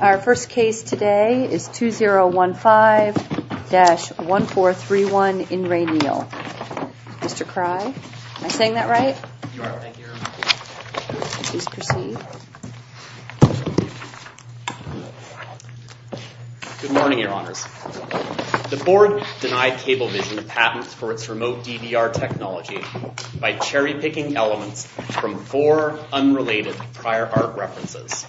Our first case today is 2015-1431 in Re Neill. Mr. Crye, am I saying that right? You are, thank you. Please proceed. Good morning, your honors. The board denied Cablevision patents for its remote DVR technology by cherry-picking elements from four unrelated prior art references.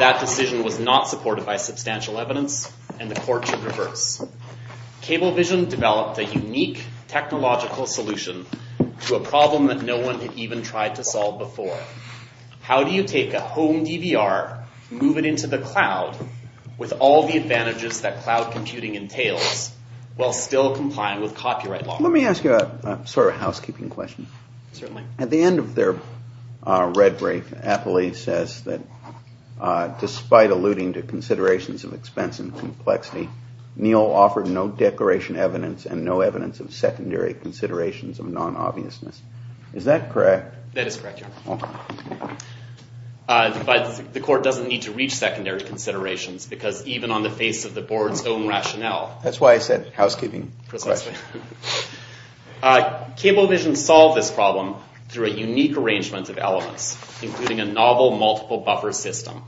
That decision was not supported by substantial evidence and the court should reverse. Cablevision developed a unique technological solution to a problem that no one had even tried to solve before. How do you take a home DVR, move it into the cloud with all the advantages that cloud computing entails while still complying with copyright law? Let me ask you a sort of housekeeping question. Certainly. At the end of their red brief, Apley says that despite alluding to considerations of expense and complexity, Neill offered no declaration evidence and no evidence of secondary considerations of non-obviousness. Is that correct? That is correct, your honor. But the court doesn't need to reach secondary considerations because even on the face of the board's own rationale That's why I said housekeeping. Cablevision solved this problem through a unique arrangement of elements, including a novel multiple buffer system.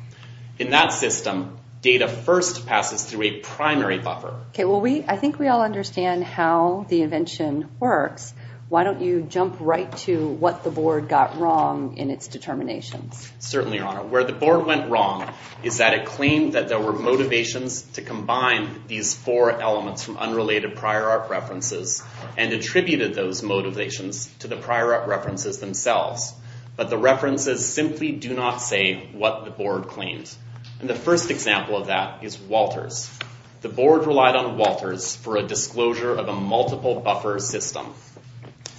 In that system, data first passes through a primary buffer. I think we all understand how the invention works. Why don't you jump right to what the board got wrong in its determinations? Certainly, your honor. Where the board went wrong is that it claimed that there were motivations to combine these four elements from unrelated prior art references and attributed those motivations to the prior art references themselves. But the references simply do not say what the board claims. And the first example of that is Walters. The board relied on Walters for a disclosure of a multiple buffer system.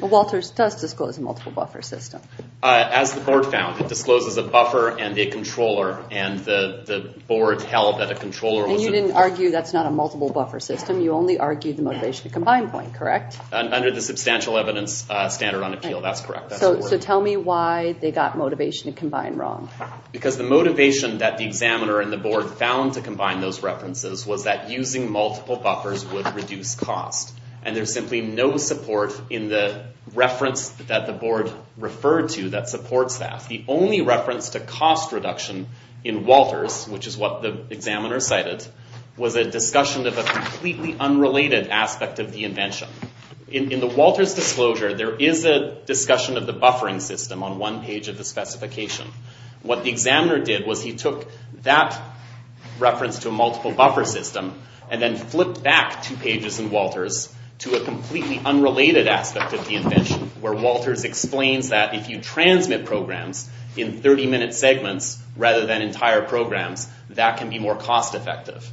Walters does disclose a multiple buffer system. As the board found, it discloses a buffer and a controller and the board held that a controller was And you didn't argue that's not a multiple buffer system. You only argued the motivation to combine point, correct? Under the substantial evidence standard on appeal, that's correct. So tell me why they got motivation to combine wrong. Because the motivation that the examiner and the board found to combine those references was that using multiple buffers would reduce cost. And there's simply no support in the reference that the board referred to that supports that. The only reference to cost reduction in Walters, which is what the examiner cited, was a discussion of a completely unrelated aspect of the invention. In the Walters disclosure, there is a discussion of the buffering system on one page of the specification. What the examiner did was he took that reference to a multiple buffer system and then flipped back two pages in Walters to a completely unrelated aspect of the invention where Walters explains that if you transmit programs in 30-minute segments rather than entire programs, that can be more cost effective.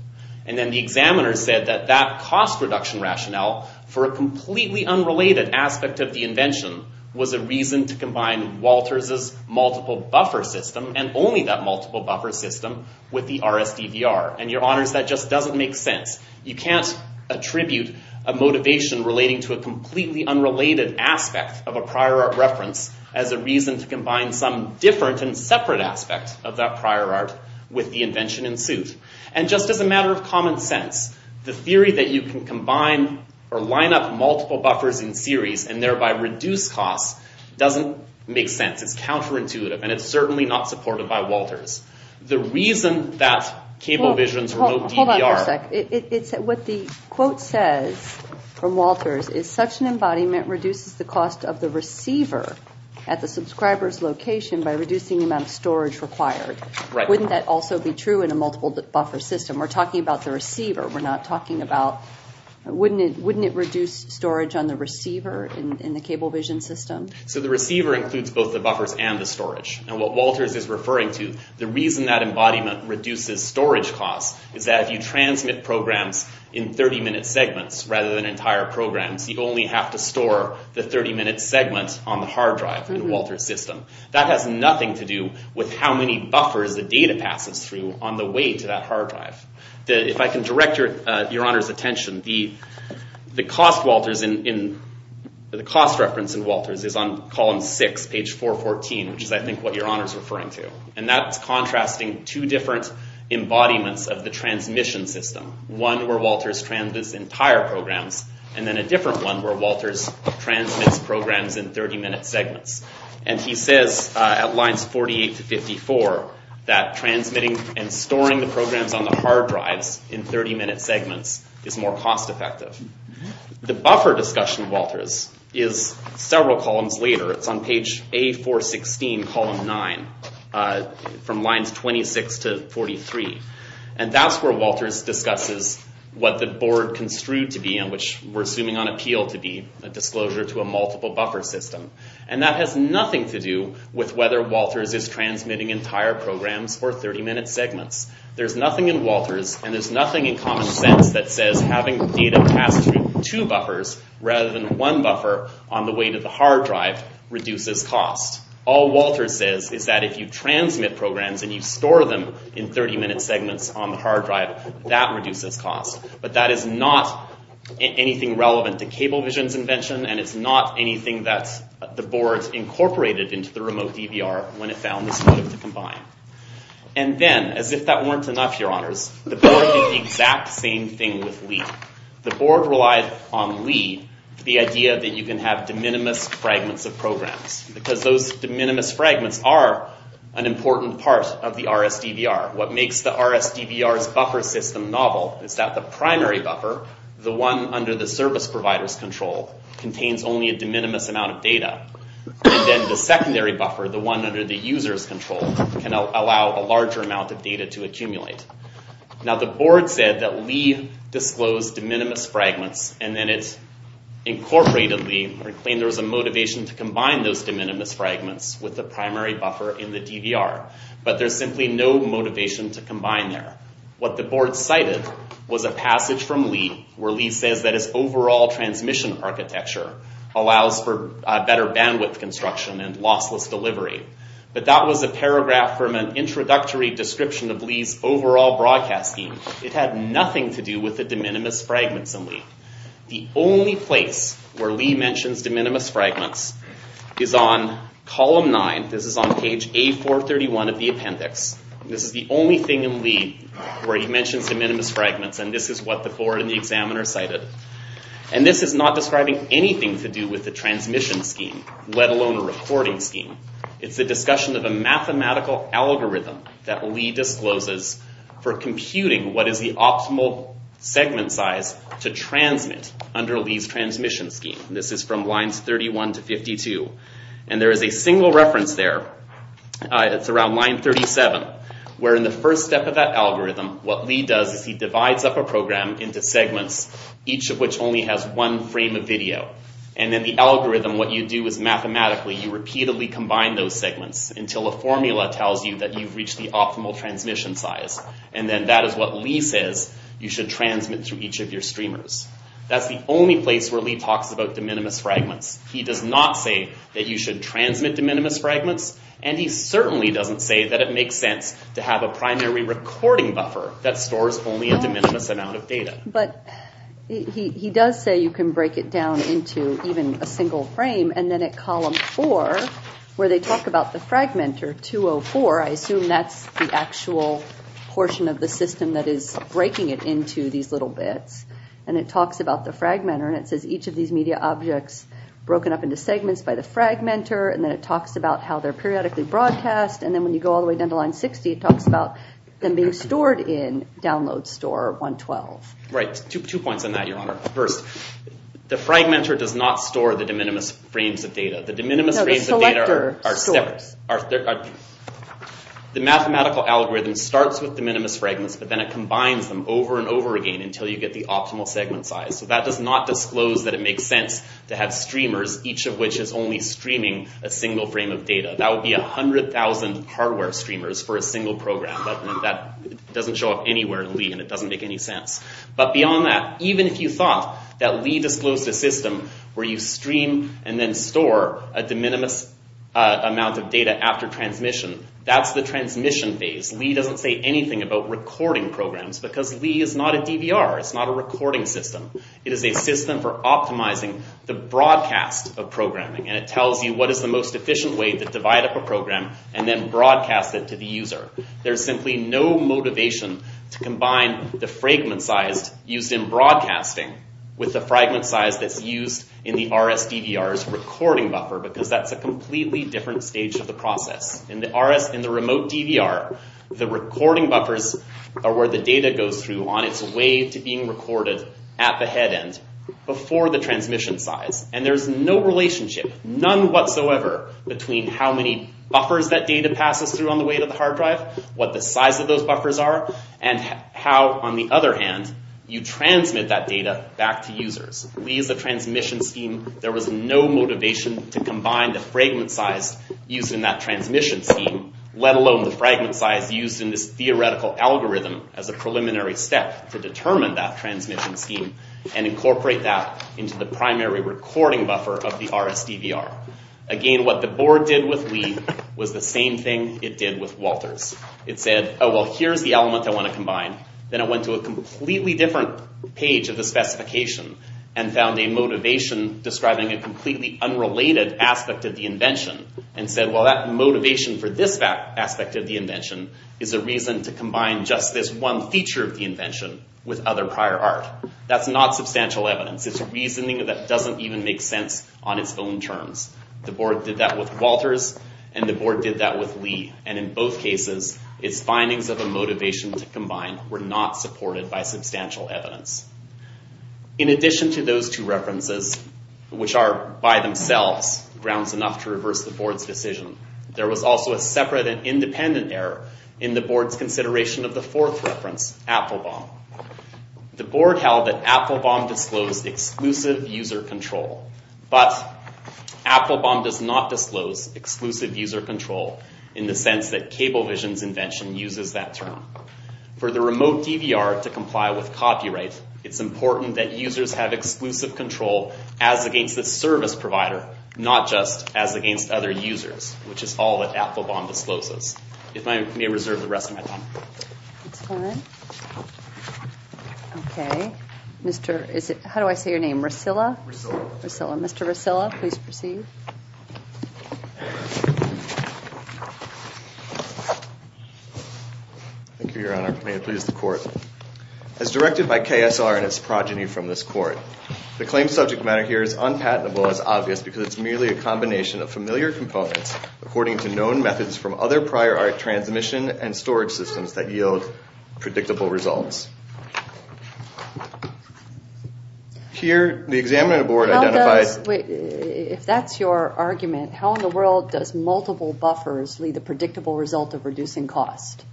And then the examiner said that that cost reduction rationale for a completely unrelated aspect of the invention was a reason to combine Walters' multiple buffer system and only that multiple buffer system with the RSDVR. And your honors, that just doesn't make sense. You can't attribute a motivation relating to a completely unrelated aspect of a prior art reference as a reason to combine some different and separate aspect of that prior art with the invention in suit. And just as a matter of common sense, the theory that you can combine or line up multiple buffers in series and thereby reduce cost doesn't make sense. It's counterintuitive and it's certainly not supported by Walters. The reason that CableVision's remote DVR... Hold on for a sec. What the quote says from Walters is such an embodiment reduces the cost of the receiver at the subscriber's location by reducing the amount of storage required. Wouldn't that also be true in a multiple buffer system? We're talking about the receiver. We're not talking about... Wouldn't it reduce storage on the receiver in the CableVision system? So the receiver includes both the buffers and the storage. And what Walters is referring to, the reason that embodiment reduces storage cost is that if you transmit programs in 30-minute segments rather than entire programs, you only have to store the 30-minute segment on the hard drive in the Walters system. That has nothing to do with how many buffers the data passes through on the way to that hard drive. If I can direct Your Honor's attention, the cost reference in Walters is on column 6, page 414, which is, I think, what Your Honor's referring to. And that's contrasting two different embodiments of the transmission system, one where Walters transmits entire programs, and then a different one where Walters transmits programs in 30-minute segments. And he says at lines 48 to 54 that transmitting and storing the programs on the hard drives in 30-minute segments is more cost effective. The buffer discussion, Walters, is several columns later. It's on page A416, column 9, from lines 26 to 43. And that's where Walters discusses what the board construed to be and which we're assuming on appeal to be a disclosure to a multiple buffer system. And that has nothing to do with whether Walters is transmitting entire programs or 30-minute segments. There's nothing in Walters, and there's nothing in common sense, that says having data pass through two buffers rather than one buffer on the way to the hard drive reduces cost. All Walters says is that if you transmit programs and you store them in 30-minute segments on the hard drive, that reduces cost. But that is not anything relevant to Cablevision's invention, and it's not anything that the board incorporated into the remote DVR when it found this motive to combine. And then, as if that weren't enough, your honors, the board did the exact same thing with LEAD. The board relied on LEAD for the idea that you can have de minimis fragments of programs, because those de minimis fragments are an important part of the RSDVR. What makes the RSDVR's buffer system novel is that the primary buffer, the one under the service provider's control, contains only a de minimis amount of data. And then the secondary buffer, the one under the user's control, can allow a larger amount of data to accumulate. Now, the board said that LEAD disclosed de minimis fragments, and then it incorporated LEAD, or claimed there was a motivation to combine those de minimis fragments with the primary buffer in the DVR. But there's simply no motivation to combine there. What the board cited was a passage from LEAD, where LEAD says that its overall transmission architecture allows for better bandwidth construction and lossless delivery. But that was a paragraph from an introductory description of LEAD's overall broadcast scheme. It had nothing to do with the de minimis fragments in LEAD. The only place where LEAD mentions de minimis fragments is on column 9. This is on page A431 of the appendix. This is the only thing in LEAD where he mentions de minimis fragments, and this is what the board and the examiner cited. And this is not describing anything to do with the transmission scheme, let alone a recording scheme. It's a discussion of a mathematical algorithm that LEAD discloses for computing what is the optimal segment size to transmit under LEAD's transmission scheme. This is from lines 31 to 52, and there is a single reference there. It's around line 37, where in the first step of that algorithm, what LEAD does is he divides up a program into segments, each of which only has one frame of video. And then the algorithm, what you do is mathematically, you repeatedly combine those segments until a formula tells you that you've reached the optimal transmission size. And then that is what LEAD says you should transmit through each of your streamers. That's the only place where LEAD talks about de minimis fragments. He does not say that you should transmit de minimis fragments, and he certainly doesn't say that it makes sense to have a primary recording buffer that stores only a de minimis amount of data. But he does say you can break it down into even a single frame, and then at column 4, where they talk about the fragmentor 204, I assume that's the actual portion of the system that is breaking it into these little bits, and it talks about the fragmentor, and it says each of these media objects is broken up into segments by the fragmentor, and then it talks about how they're periodically broadcast, and then when you go all the way down to line 60, it talks about them being stored in download store 112. Right. Two points on that, Your Honor. First, the fragmentor does not store the de minimis frames of data. The de minimis frames of data are separate. The mathematical algorithm starts with de minimis fragments, but then it combines them over and over again until you get the optimal segment size. So that does not disclose that it makes sense to have streamers, each of which is only streaming a single frame of data. That would be 100,000 hardware streamers for a single program, but that doesn't show up anywhere in Lee, and it doesn't make any sense. But beyond that, even if you thought that Lee disclosed a system where you stream and then store a de minimis amount of data after transmission, that's the transmission phase. Lee doesn't say anything about recording programs, because Lee is not a DVR. It's not a recording system. It is a system for optimizing the broadcast of programming, and it tells you what is the most efficient way to divide up a program and then broadcast it to the user. There's simply no motivation to combine the fragment size used in broadcasting with the fragment size that's used in the RSDVR's recording buffer, because that's a completely different stage of the process. In the remote DVR, the recording buffers are where the data goes through on its way to being recorded at the head end before the transmission size, and there's no relationship, none whatsoever, between how many buffers that data passes through on the way to the hard drive, what the size of those buffers are, and how, on the other hand, you transmit that data back to users. Lee is a transmission scheme. There was no motivation to combine the fragment size used in that transmission scheme, let alone the fragment size used in this theoretical algorithm as a preliminary step to determine that transmission scheme and incorporate that into the primary recording buffer of the RSDVR. Again, what the board did with Lee was the same thing it did with Walters. It said, oh, well, here's the element I want to combine. Then it went to a completely different page of the specification and found a motivation describing a completely unrelated aspect of the invention and said, well, that motivation for this aspect of the invention is a reason to combine just this one feature of the invention with other prior art. That's not substantial evidence. It's reasoning that doesn't even make sense on its own terms. The board did that with Walters, and the board did that with Lee, and in both cases, its findings of a motivation to combine were not supported by substantial evidence. In addition to those two references, which are by themselves grounds enough to reverse the board's decision, there was also a separate and independent error in the board's consideration of the fourth reference, Applebaum. The board held that Applebaum disclosed exclusive user control, but Applebaum does not disclose exclusive user control in the sense that Cablevision's invention uses that term. For the remote DVR to comply with copyright, it's important that users have exclusive control as against the service provider, not just as against other users, which is all that Applebaum discloses. If I may reserve the rest of my time. That's fine. Okay. How do I say your name? Rusilla? Rusilla. Rusilla. Thank you, Your Honor. May it please the Court. As directed by KSR and its progeny from this Court, the claimed subject matter here is unpatentable as obvious because it's merely a combination of familiar components according to known methods from other prior art transmission and storage systems that yield predictable results. Here, the examining board identified... If that's your argument, how in the world does multiple buffers lead to a predictable result of reducing cost?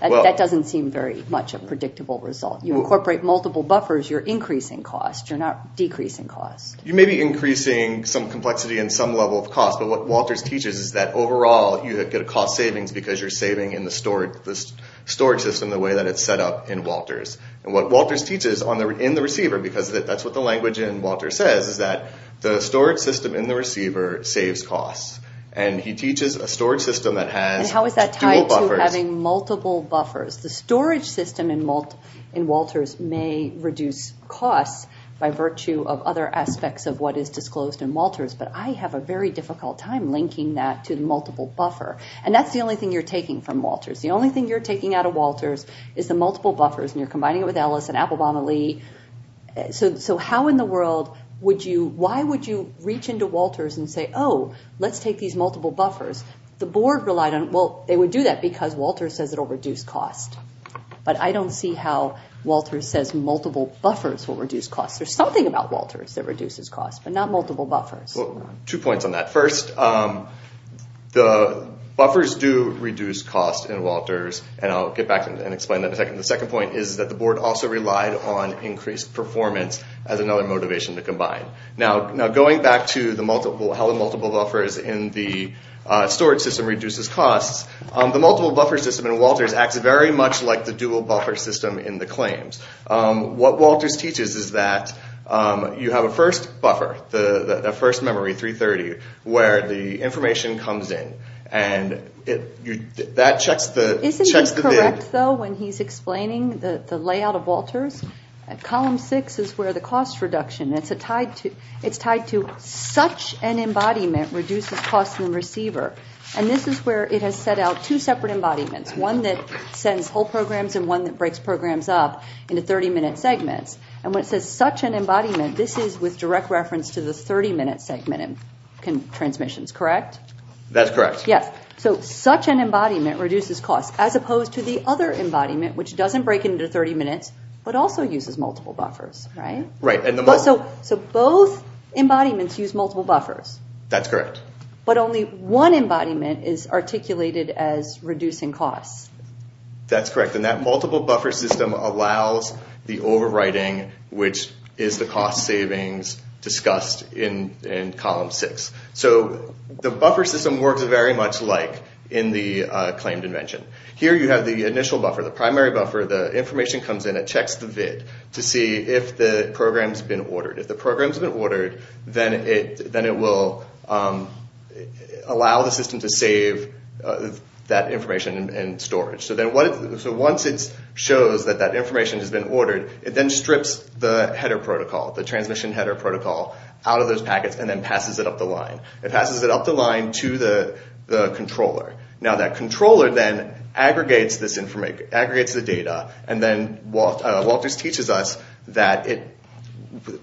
That doesn't seem very much a predictable result. You incorporate multiple buffers, you're increasing cost. You're not decreasing cost. You may be increasing some complexity and some level of cost, but what Walters teaches is that overall, you get a cost savings because you're saving in the storage system the way that it's set up in Walters. And what Walters teaches in the receiver, because that's what the language in Walters says, is that the storage system in the receiver saves costs. And he teaches a storage system that has... And how is that tied to having multiple buffers? The storage system in Walters may reduce costs by virtue of other aspects of what is disclosed in Walters, but I have a very difficult time linking that to the multiple buffer. And that's the only thing you're taking from Walters. The only thing you're taking out of Walters is the multiple buffers, and you're combining it with Ellis and Applebaum and Lee. So how in the world would you... Why would you reach into Walters and say, oh, let's take these multiple buffers? The board relied on... Well, they would do that because Walters says it'll reduce costs. But I don't see how Walters says multiple buffers will reduce costs. There's something about Walters that reduces costs, but not multiple buffers. Well, two points on that. First, the buffers do reduce costs in Walters, and I'll get back and explain that in a second. The second point is that the board also relied on increased performance as another motivation to combine. Now, going back to how the multiple buffers in the storage system reduces costs, the multiple buffer system in Walters acts very much like the dual buffer system in the claims. What Walters teaches is that you have a first buffer, the first memory, 330, where the information comes in. And that checks the bid. Isn't he correct, though, when he's explaining the layout of Walters? Column 6 is where the cost reduction. It's tied to such an embodiment reduces costs in the receiver. And this is where it has set out two separate embodiments, one that sends whole programs and one that breaks programs up into 30-minute segments. And when it says such an embodiment, this is with direct reference to the 30-minute segment in transmissions, correct? That's correct. Yes, so such an embodiment reduces costs, as opposed to the other embodiment, which doesn't break into 30 minutes, but also uses multiple buffers, right? Right. So both embodiments use multiple buffers. That's correct. But only one embodiment is articulated as reducing costs. That's correct, and that multiple buffer system allows the overwriting, which is the cost savings discussed in Column 6. So the buffer system works very much like in the claimed invention. Here you have the initial buffer, the primary buffer. The information comes in. It checks the VID to see if the program's been ordered. If the program's been ordered, then it will allow the system to save that information in storage. So once it shows that that information has been ordered, it then strips the header protocol, the transmission header protocol, out of those packets and then passes it up the line. It passes it up the line to the controller. Now that controller then aggregates the data and then Walters teaches us that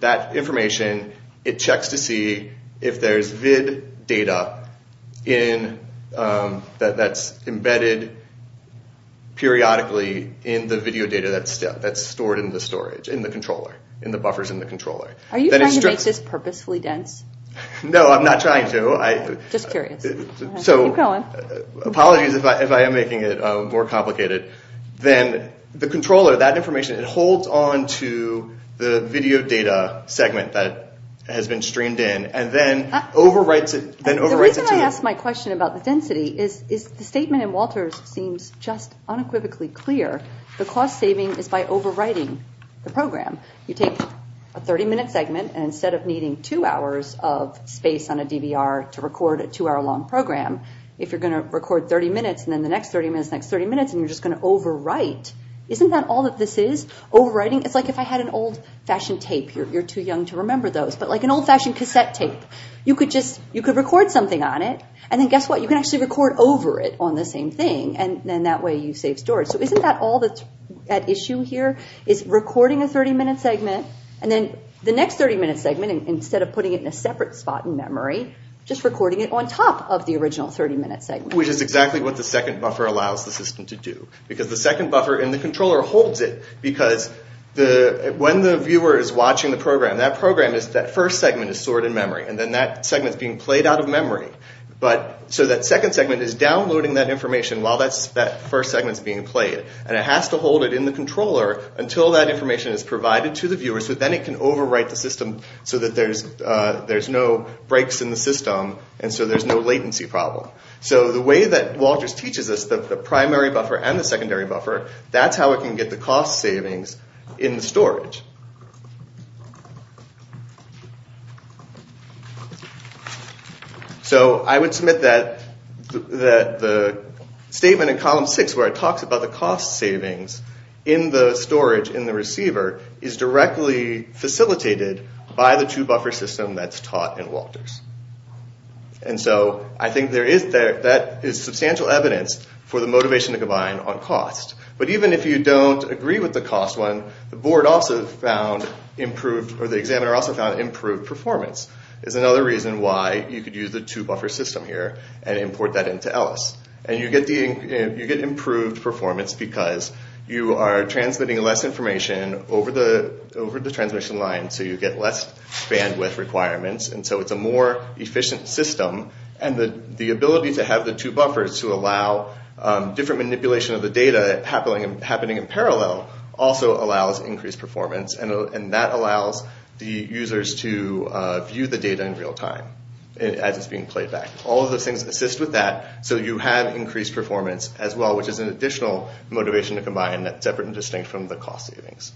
that information, it checks to see if there's VID data that's embedded periodically in the video data that's stored in the storage, in the controller, in the buffers in the controller. Are you trying to make this purposefully dense? No, I'm not trying to. Just curious. So apologies if I am making it more complicated. Then the controller, that information, it holds on to the video data segment that has been streamed in and then overwrites it to you. The reason I ask my question about the density is the statement in Walters seems just unequivocally clear. The cost saving is by overwriting the program. You take a 30-minute segment and instead of needing two hours of space on a DVR to record a two-hour long program, if you're going to record 30 minutes and then the next 30 minutes, next 30 minutes, and you're just going to overwrite, isn't that all that this is, overwriting? It's like if I had an old-fashioned tape. You're too young to remember those, but like an old-fashioned cassette tape. You could record something on it and then guess what? You can actually record over it on the same thing and then that way you save storage. So isn't that all that's at issue here is recording a 30-minute segment and then the next 30-minute segment, instead of putting it in a separate spot in memory, just recording it on top of the original 30-minute segment? Which is exactly what the second buffer allows the system to do. Because the second buffer in the controller holds it because when the viewer is watching the program, that program is that first segment is stored in memory and then that segment is being played out of memory. So that second segment is downloading that information while that first segment is being played and it has to hold it in the controller until that information is provided to the viewer so then it can overwrite the system so that there's no breaks in the system and so there's no latency problem. So the way that WALTRS teaches us the primary buffer and the secondary buffer, that's how it can get the cost savings in the storage. So I would submit that the statement in column 6 where it talks about the cost savings in the storage in the receiver is directly facilitated by the two-buffer system that's taught in WALTRS. And so I think that is substantial evidence for the motivation to combine on cost. But even if you don't agree with the cost one, the board also found improved, or the examiner also found improved performance is another reason why you could use the two-buffer system here and import that into ELLIS. And you get improved performance because you are transmitting less information over the transmission line so you get less bandwidth requirements and so it's a more efficient system. And the ability to have the two buffers to allow different manipulation of the data happening in parallel also allows increased performance and that allows the users to view the data in real time as it's being played back. All of those things assist with that so you have increased performance as well which is an additional motivation to combine that's separate and distinct from the cost savings.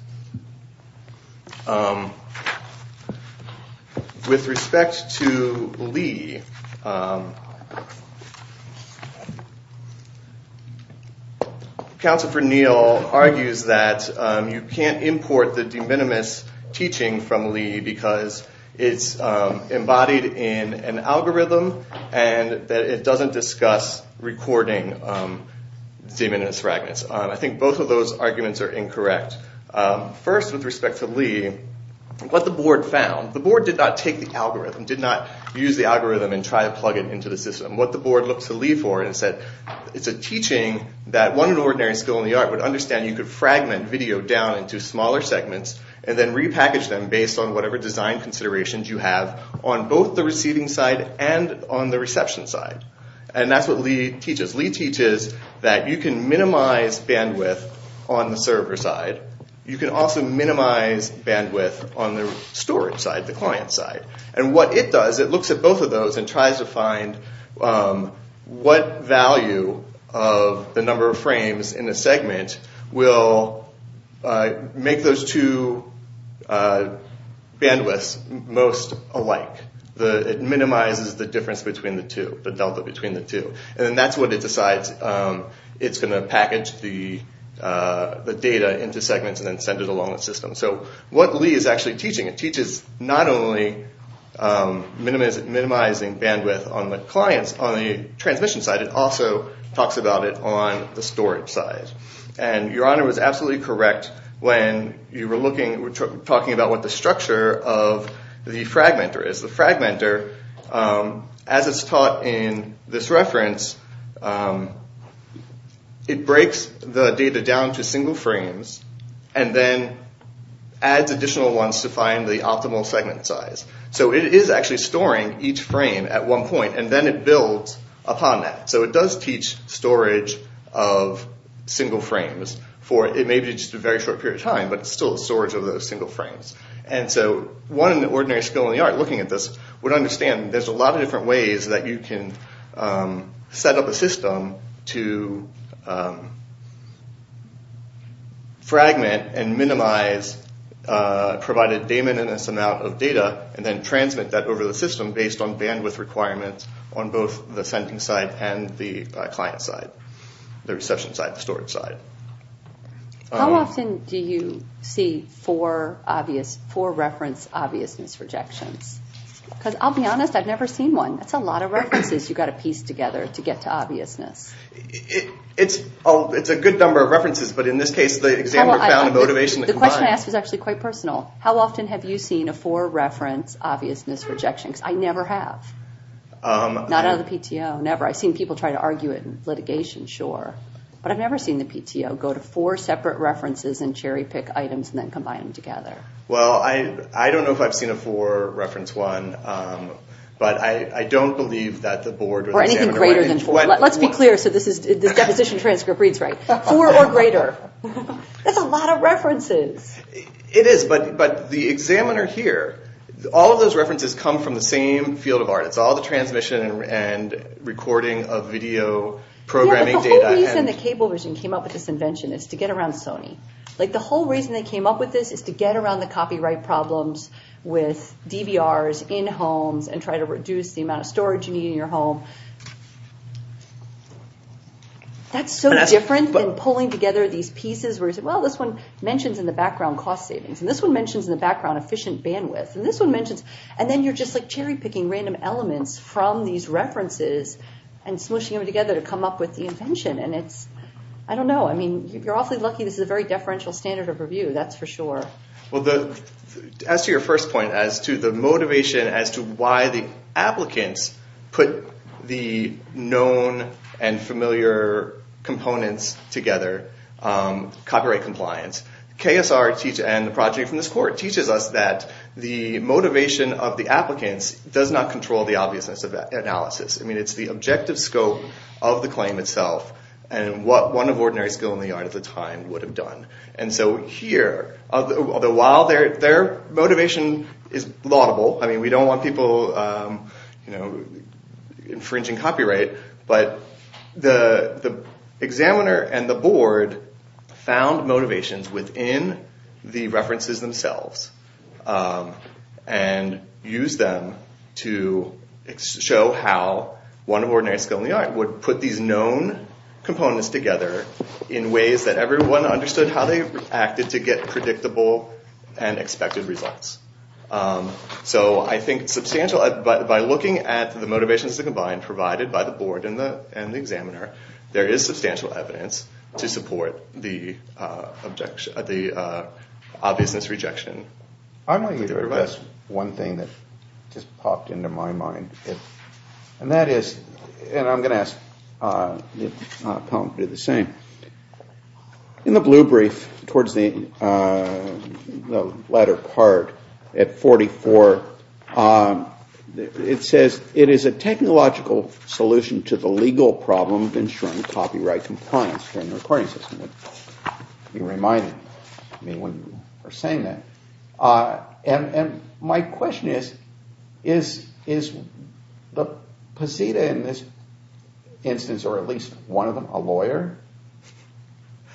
With respect to Leigh, Counsellor Neil argues that you can't import the de minimis teaching from Leigh because it's embodied in an algorithm and that it doesn't discuss recording de minimis fragments. I think both of those arguments are incorrect. First, with respect to Leigh, what the board found, the board did not take the algorithm, did not use the algorithm and try to plug it into the system. What the board looked to Leigh for is that it's a teaching that one ordinary skill in the art would understand you could fragment video down into smaller segments and then repackage them based on whatever design considerations you have on both the receiving side and on the reception side. And that's what Leigh teaches. Leigh teaches that you can minimize bandwidth on the server side. You can also minimize bandwidth on the storage side, the client side. And what it does, it looks at both of those and tries to find what value of the number of frames in a segment will make those two bandwidths most alike. It minimizes the difference between the two, the delta between the two. And that's what it decides it's going to package the data into segments and then send it along the system. So what Leigh is actually teaching, it teaches not only minimizing bandwidth on the clients, on the transmission side, it also talks about it on the storage side. And Your Honor was absolutely correct when you were talking about what the structure of the fragmentor is. The fragmentor, as it's taught in this reference, it breaks the data down to single frames and then adds additional ones to find the optimal segment size. So it is actually storing each frame at one point and then it builds upon that. So it does teach storage of single frames. It may be just a very short period of time, but it's still storage of those single frames. And so one ordinary skill in the art looking at this would understand there's a lot of different ways that you can set up a system to fragment and minimize provided daemon in this amount of data and then transmit that over the system based on bandwidth requirements on both the sending side and the client side, the reception side, the storage side. How often do you see four obvious, four reference obviousness rejections? Because I'll be honest, I've never seen one. That's a lot of references you've got to piece together to get to obviousness. It's a good number of references, but in this case the examiner found a motivation to combine. The question I asked was actually quite personal. How often have you seen a four reference obviousness rejection? Because I never have. Not out of the PTO, never. I've seen people try to argue it in litigation, sure. But I've never seen the PTO go to four separate references and cherry pick items and then combine them together. Well, I don't know if I've seen a four reference one, but I don't believe that the board or the examiner... Or anything greater than four. Let's be clear so this deposition transcript reads right. Four or greater. That's a lot of references. It is, but the examiner here, all of those references come from the same field of art. It's all the transmission and recording of video programming data. Yeah, but the whole reason the cable version came up with this invention is to get around Sony. The whole reason they came up with this is to get around the copyright problems with DVRs in homes and try to reduce the amount of storage you need in your home. That's so different than pulling together these pieces where you say, well, this one mentions in the background cost savings. And this one mentions in the background efficient bandwidth. And this one mentions... And then you're just cherry picking random elements from these references and smooshing them together to come up with the invention. And it's... I don't know. You're awfully lucky this is a very deferential standard of review. That's for sure. Well, as to your first point, as to the motivation as to why the applicants put the known and familiar components together, copyright compliance, KSR and the project from this court teaches us that the motivation of the applicants does not control the obviousness of that analysis. I mean, it's the objective scope of the claim itself and what one of ordinary skill in the art at the time would have done. And so here, while their motivation is laudable, I mean, we don't want people infringing copyright, but the examiner and the board found motivations within the references themselves and used them to show how one of ordinary skill in the art would put these known components together in ways that everyone understood how they reacted to get predictable and expected results. So I think substantial... By looking at the motivations combined provided by the board and the examiner, there is substantial evidence to support the obviousness rejection. I might address one thing that just popped into my mind. And that is... And I'm going to ask the panel to do the same. In the blue brief towards the latter part at 44, it says it is a technological solution to the legal problem of ensuring copyright compliance during the recording system. It reminded me when you were saying that. And my question is, is Poseida in this instance, or at least one of them, a lawyer?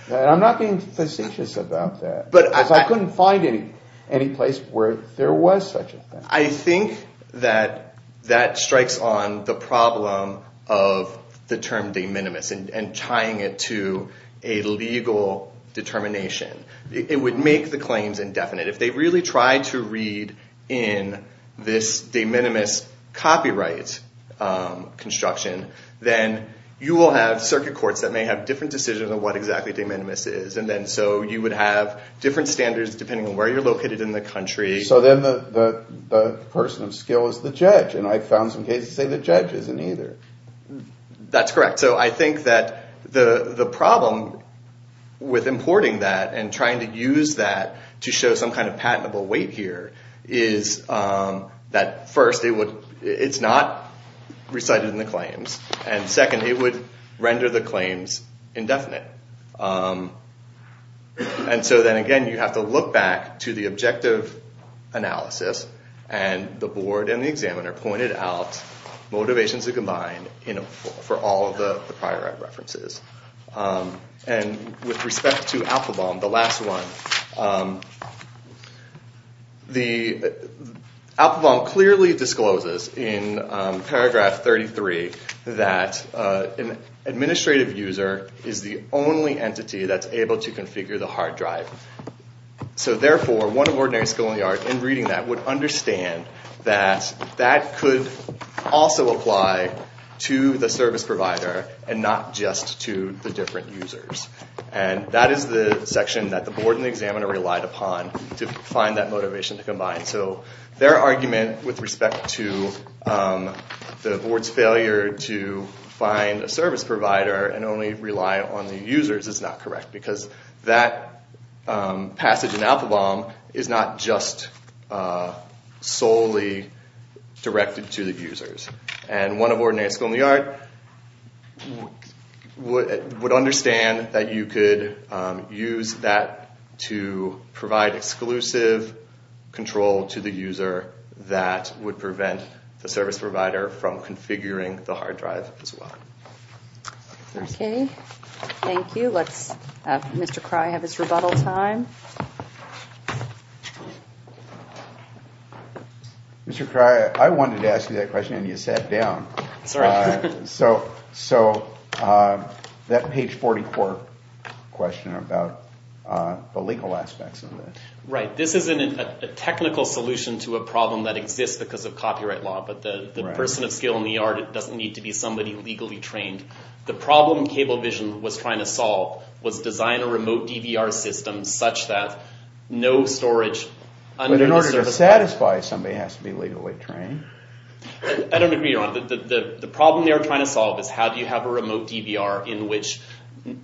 And I'm not being facetious about that. Because I couldn't find any place where there was such a thing. I think that that strikes on the problem of the term de minimis and tying it to a legal determination. It would make the claims indefinite. If they really tried to read in this de minimis copyright construction, then you will have circuit courts that may have different decisions on what exactly de minimis is. So you would have different standards depending on where you're located in the country. So then the person of skill is the judge. And I found some cases that say the judge isn't either. That's correct. So I think that the problem with importing that and trying to use that to show some kind of patentable weight here is that first, it's not recited in the claims. And second, it would render the claims indefinite. And so then again, you have to look back to the objective analysis. And the board and the examiner pointed out motivations to combine for all of the prior references. And with respect to Alphabom, the last one, Alphabom clearly discloses in paragraph 33 that an administrative user is the only entity that's able to configure the hard drive. So therefore, one of ordinary skill in the art in reading that would understand that that could also apply to the service provider and not just to the different users. And that is the section that the board and the examiner relied upon to find that motivation to combine. So their argument with respect to the board's failure to find a service provider and only rely on the users is not correct because that passage in Alphabom is not just solely directed to the users. And one of ordinary skill in the art would understand that you could use that to provide exclusive control to the user that would prevent the service provider from configuring the hard drive as well. Okay, thank you. Let's have Mr. Cry have his rebuttal time. Mr. Cry, I wanted to ask you that question and you sat down. Sorry. So that page 44 question about the legal aspects of it. Right. This isn't a technical solution to a problem that exists because of copyright law, but the person of skill in the art doesn't need to be somebody legally trained. The problem Cablevision was trying to solve was design a remote DVR system such that no storage under the service provider... But in order to satisfy, somebody has to be legally trained. I don't agree, Your Honor. The problem they were trying to solve is how do you have a remote DVR in which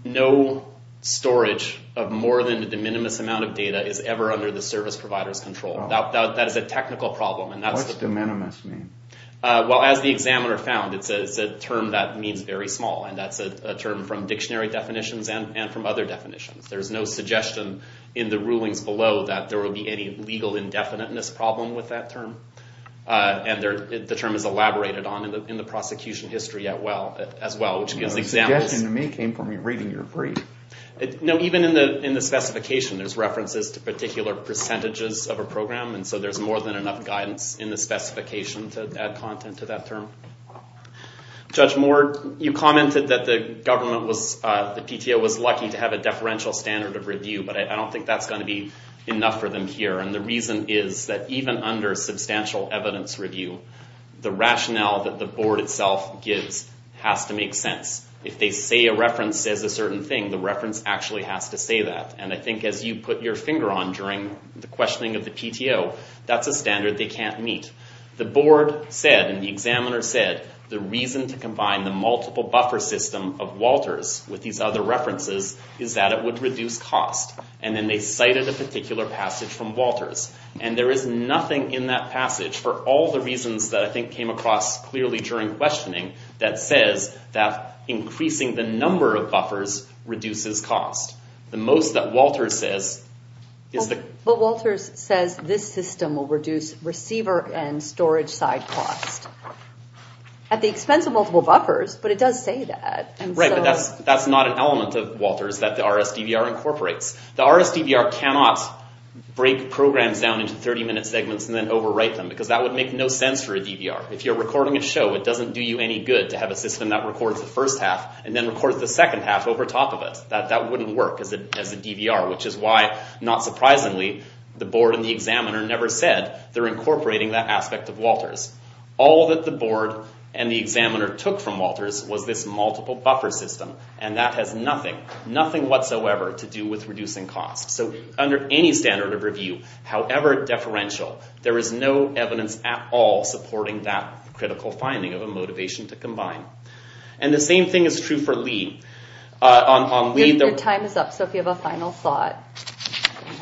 no storage of more than a de minimis amount of data is ever under the service provider's control. That is a technical problem. What's de minimis mean? Well, as the examiner found, it's a term that means very small and that's a term from dictionary definitions and from other definitions. There's no suggestion in the rulings below that there would be any legal indefiniteness problem with that term. And the term is elaborated on in the prosecution history as well, which gives examiners... The suggestion to me came from me reading your brief. No, even in the specification, there's references to particular percentages of a program and so there's more than enough guidance in the specification to add content to that term. Judge Moore, you commented that the government was... The PTO was lucky to have a deferential standard of review, but I don't think that's going to be enough for them here. And the reason is that even under substantial evidence review, the rationale that the board itself gives has to make sense. If they say a reference says a certain thing, the reference actually has to say that. And I think as you put your finger on during the questioning of the PTO, that's a standard they can't meet. The board said and the examiner said the reason to combine the multiple buffer system of Walters with these other references is that it would reduce cost. And then they cited a particular passage from Walters. And there is nothing in that passage for all the reasons that I think came across clearly during questioning that says that increasing the number of buffers reduces cost. The most that Walters says is the... But Walters says this system will reduce receiver and storage side cost at the expense of multiple buffers, but it does say that. Right, but that's not an element of Walters that the RSDVR incorporates. The RSDVR cannot break programs down into 30-minute segments and then overwrite them because that would make no sense for a DVR. If you're recording a show, it doesn't do you any good to have a system that records the first half and then records the second half over top of it. That wouldn't work as a DVR, which is why, not surprisingly, the board and the examiner never said they're incorporating that aspect of Walters. All that the board and the examiner took from Walters was this multiple buffer system, and that has nothing, nothing whatsoever to do with reducing cost. So under any standard of review, however deferential, there is no evidence at all supporting that critical finding of a motivation to combine. And the same thing is true for LEAD. On LEAD... Your time is up, so if you have a final thought.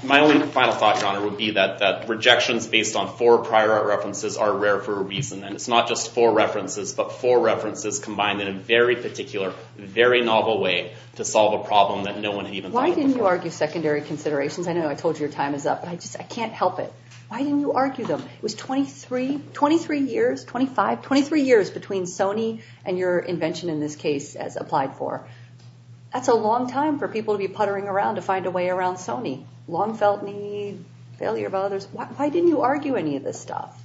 My only final thought, Your Honor, would be that rejections based on four prior art references are rare for a reason, and it's not just four references, but four references combined in a very particular, very novel way to solve a problem that no one had even thought of before. Why didn't you argue secondary considerations? I know I told you your time is up, but I just, I can't help it. Why didn't you argue them? It was 23, 23 years, 25, 23 years between Sony and your invention in this case as applied for. That's a long time for people to be puttering around to find a way around Sony. Long felt need, failure bothers. Why didn't you argue any of this stuff?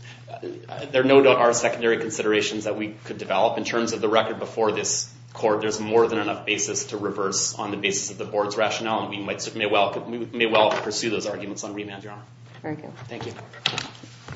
There no doubt are secondary considerations that we could develop in terms of the record before this court. There's more than enough basis to reverse on the basis of the board's rationale, and we might, may well, may well pursue those arguments on remand, Your Honor. Thank you.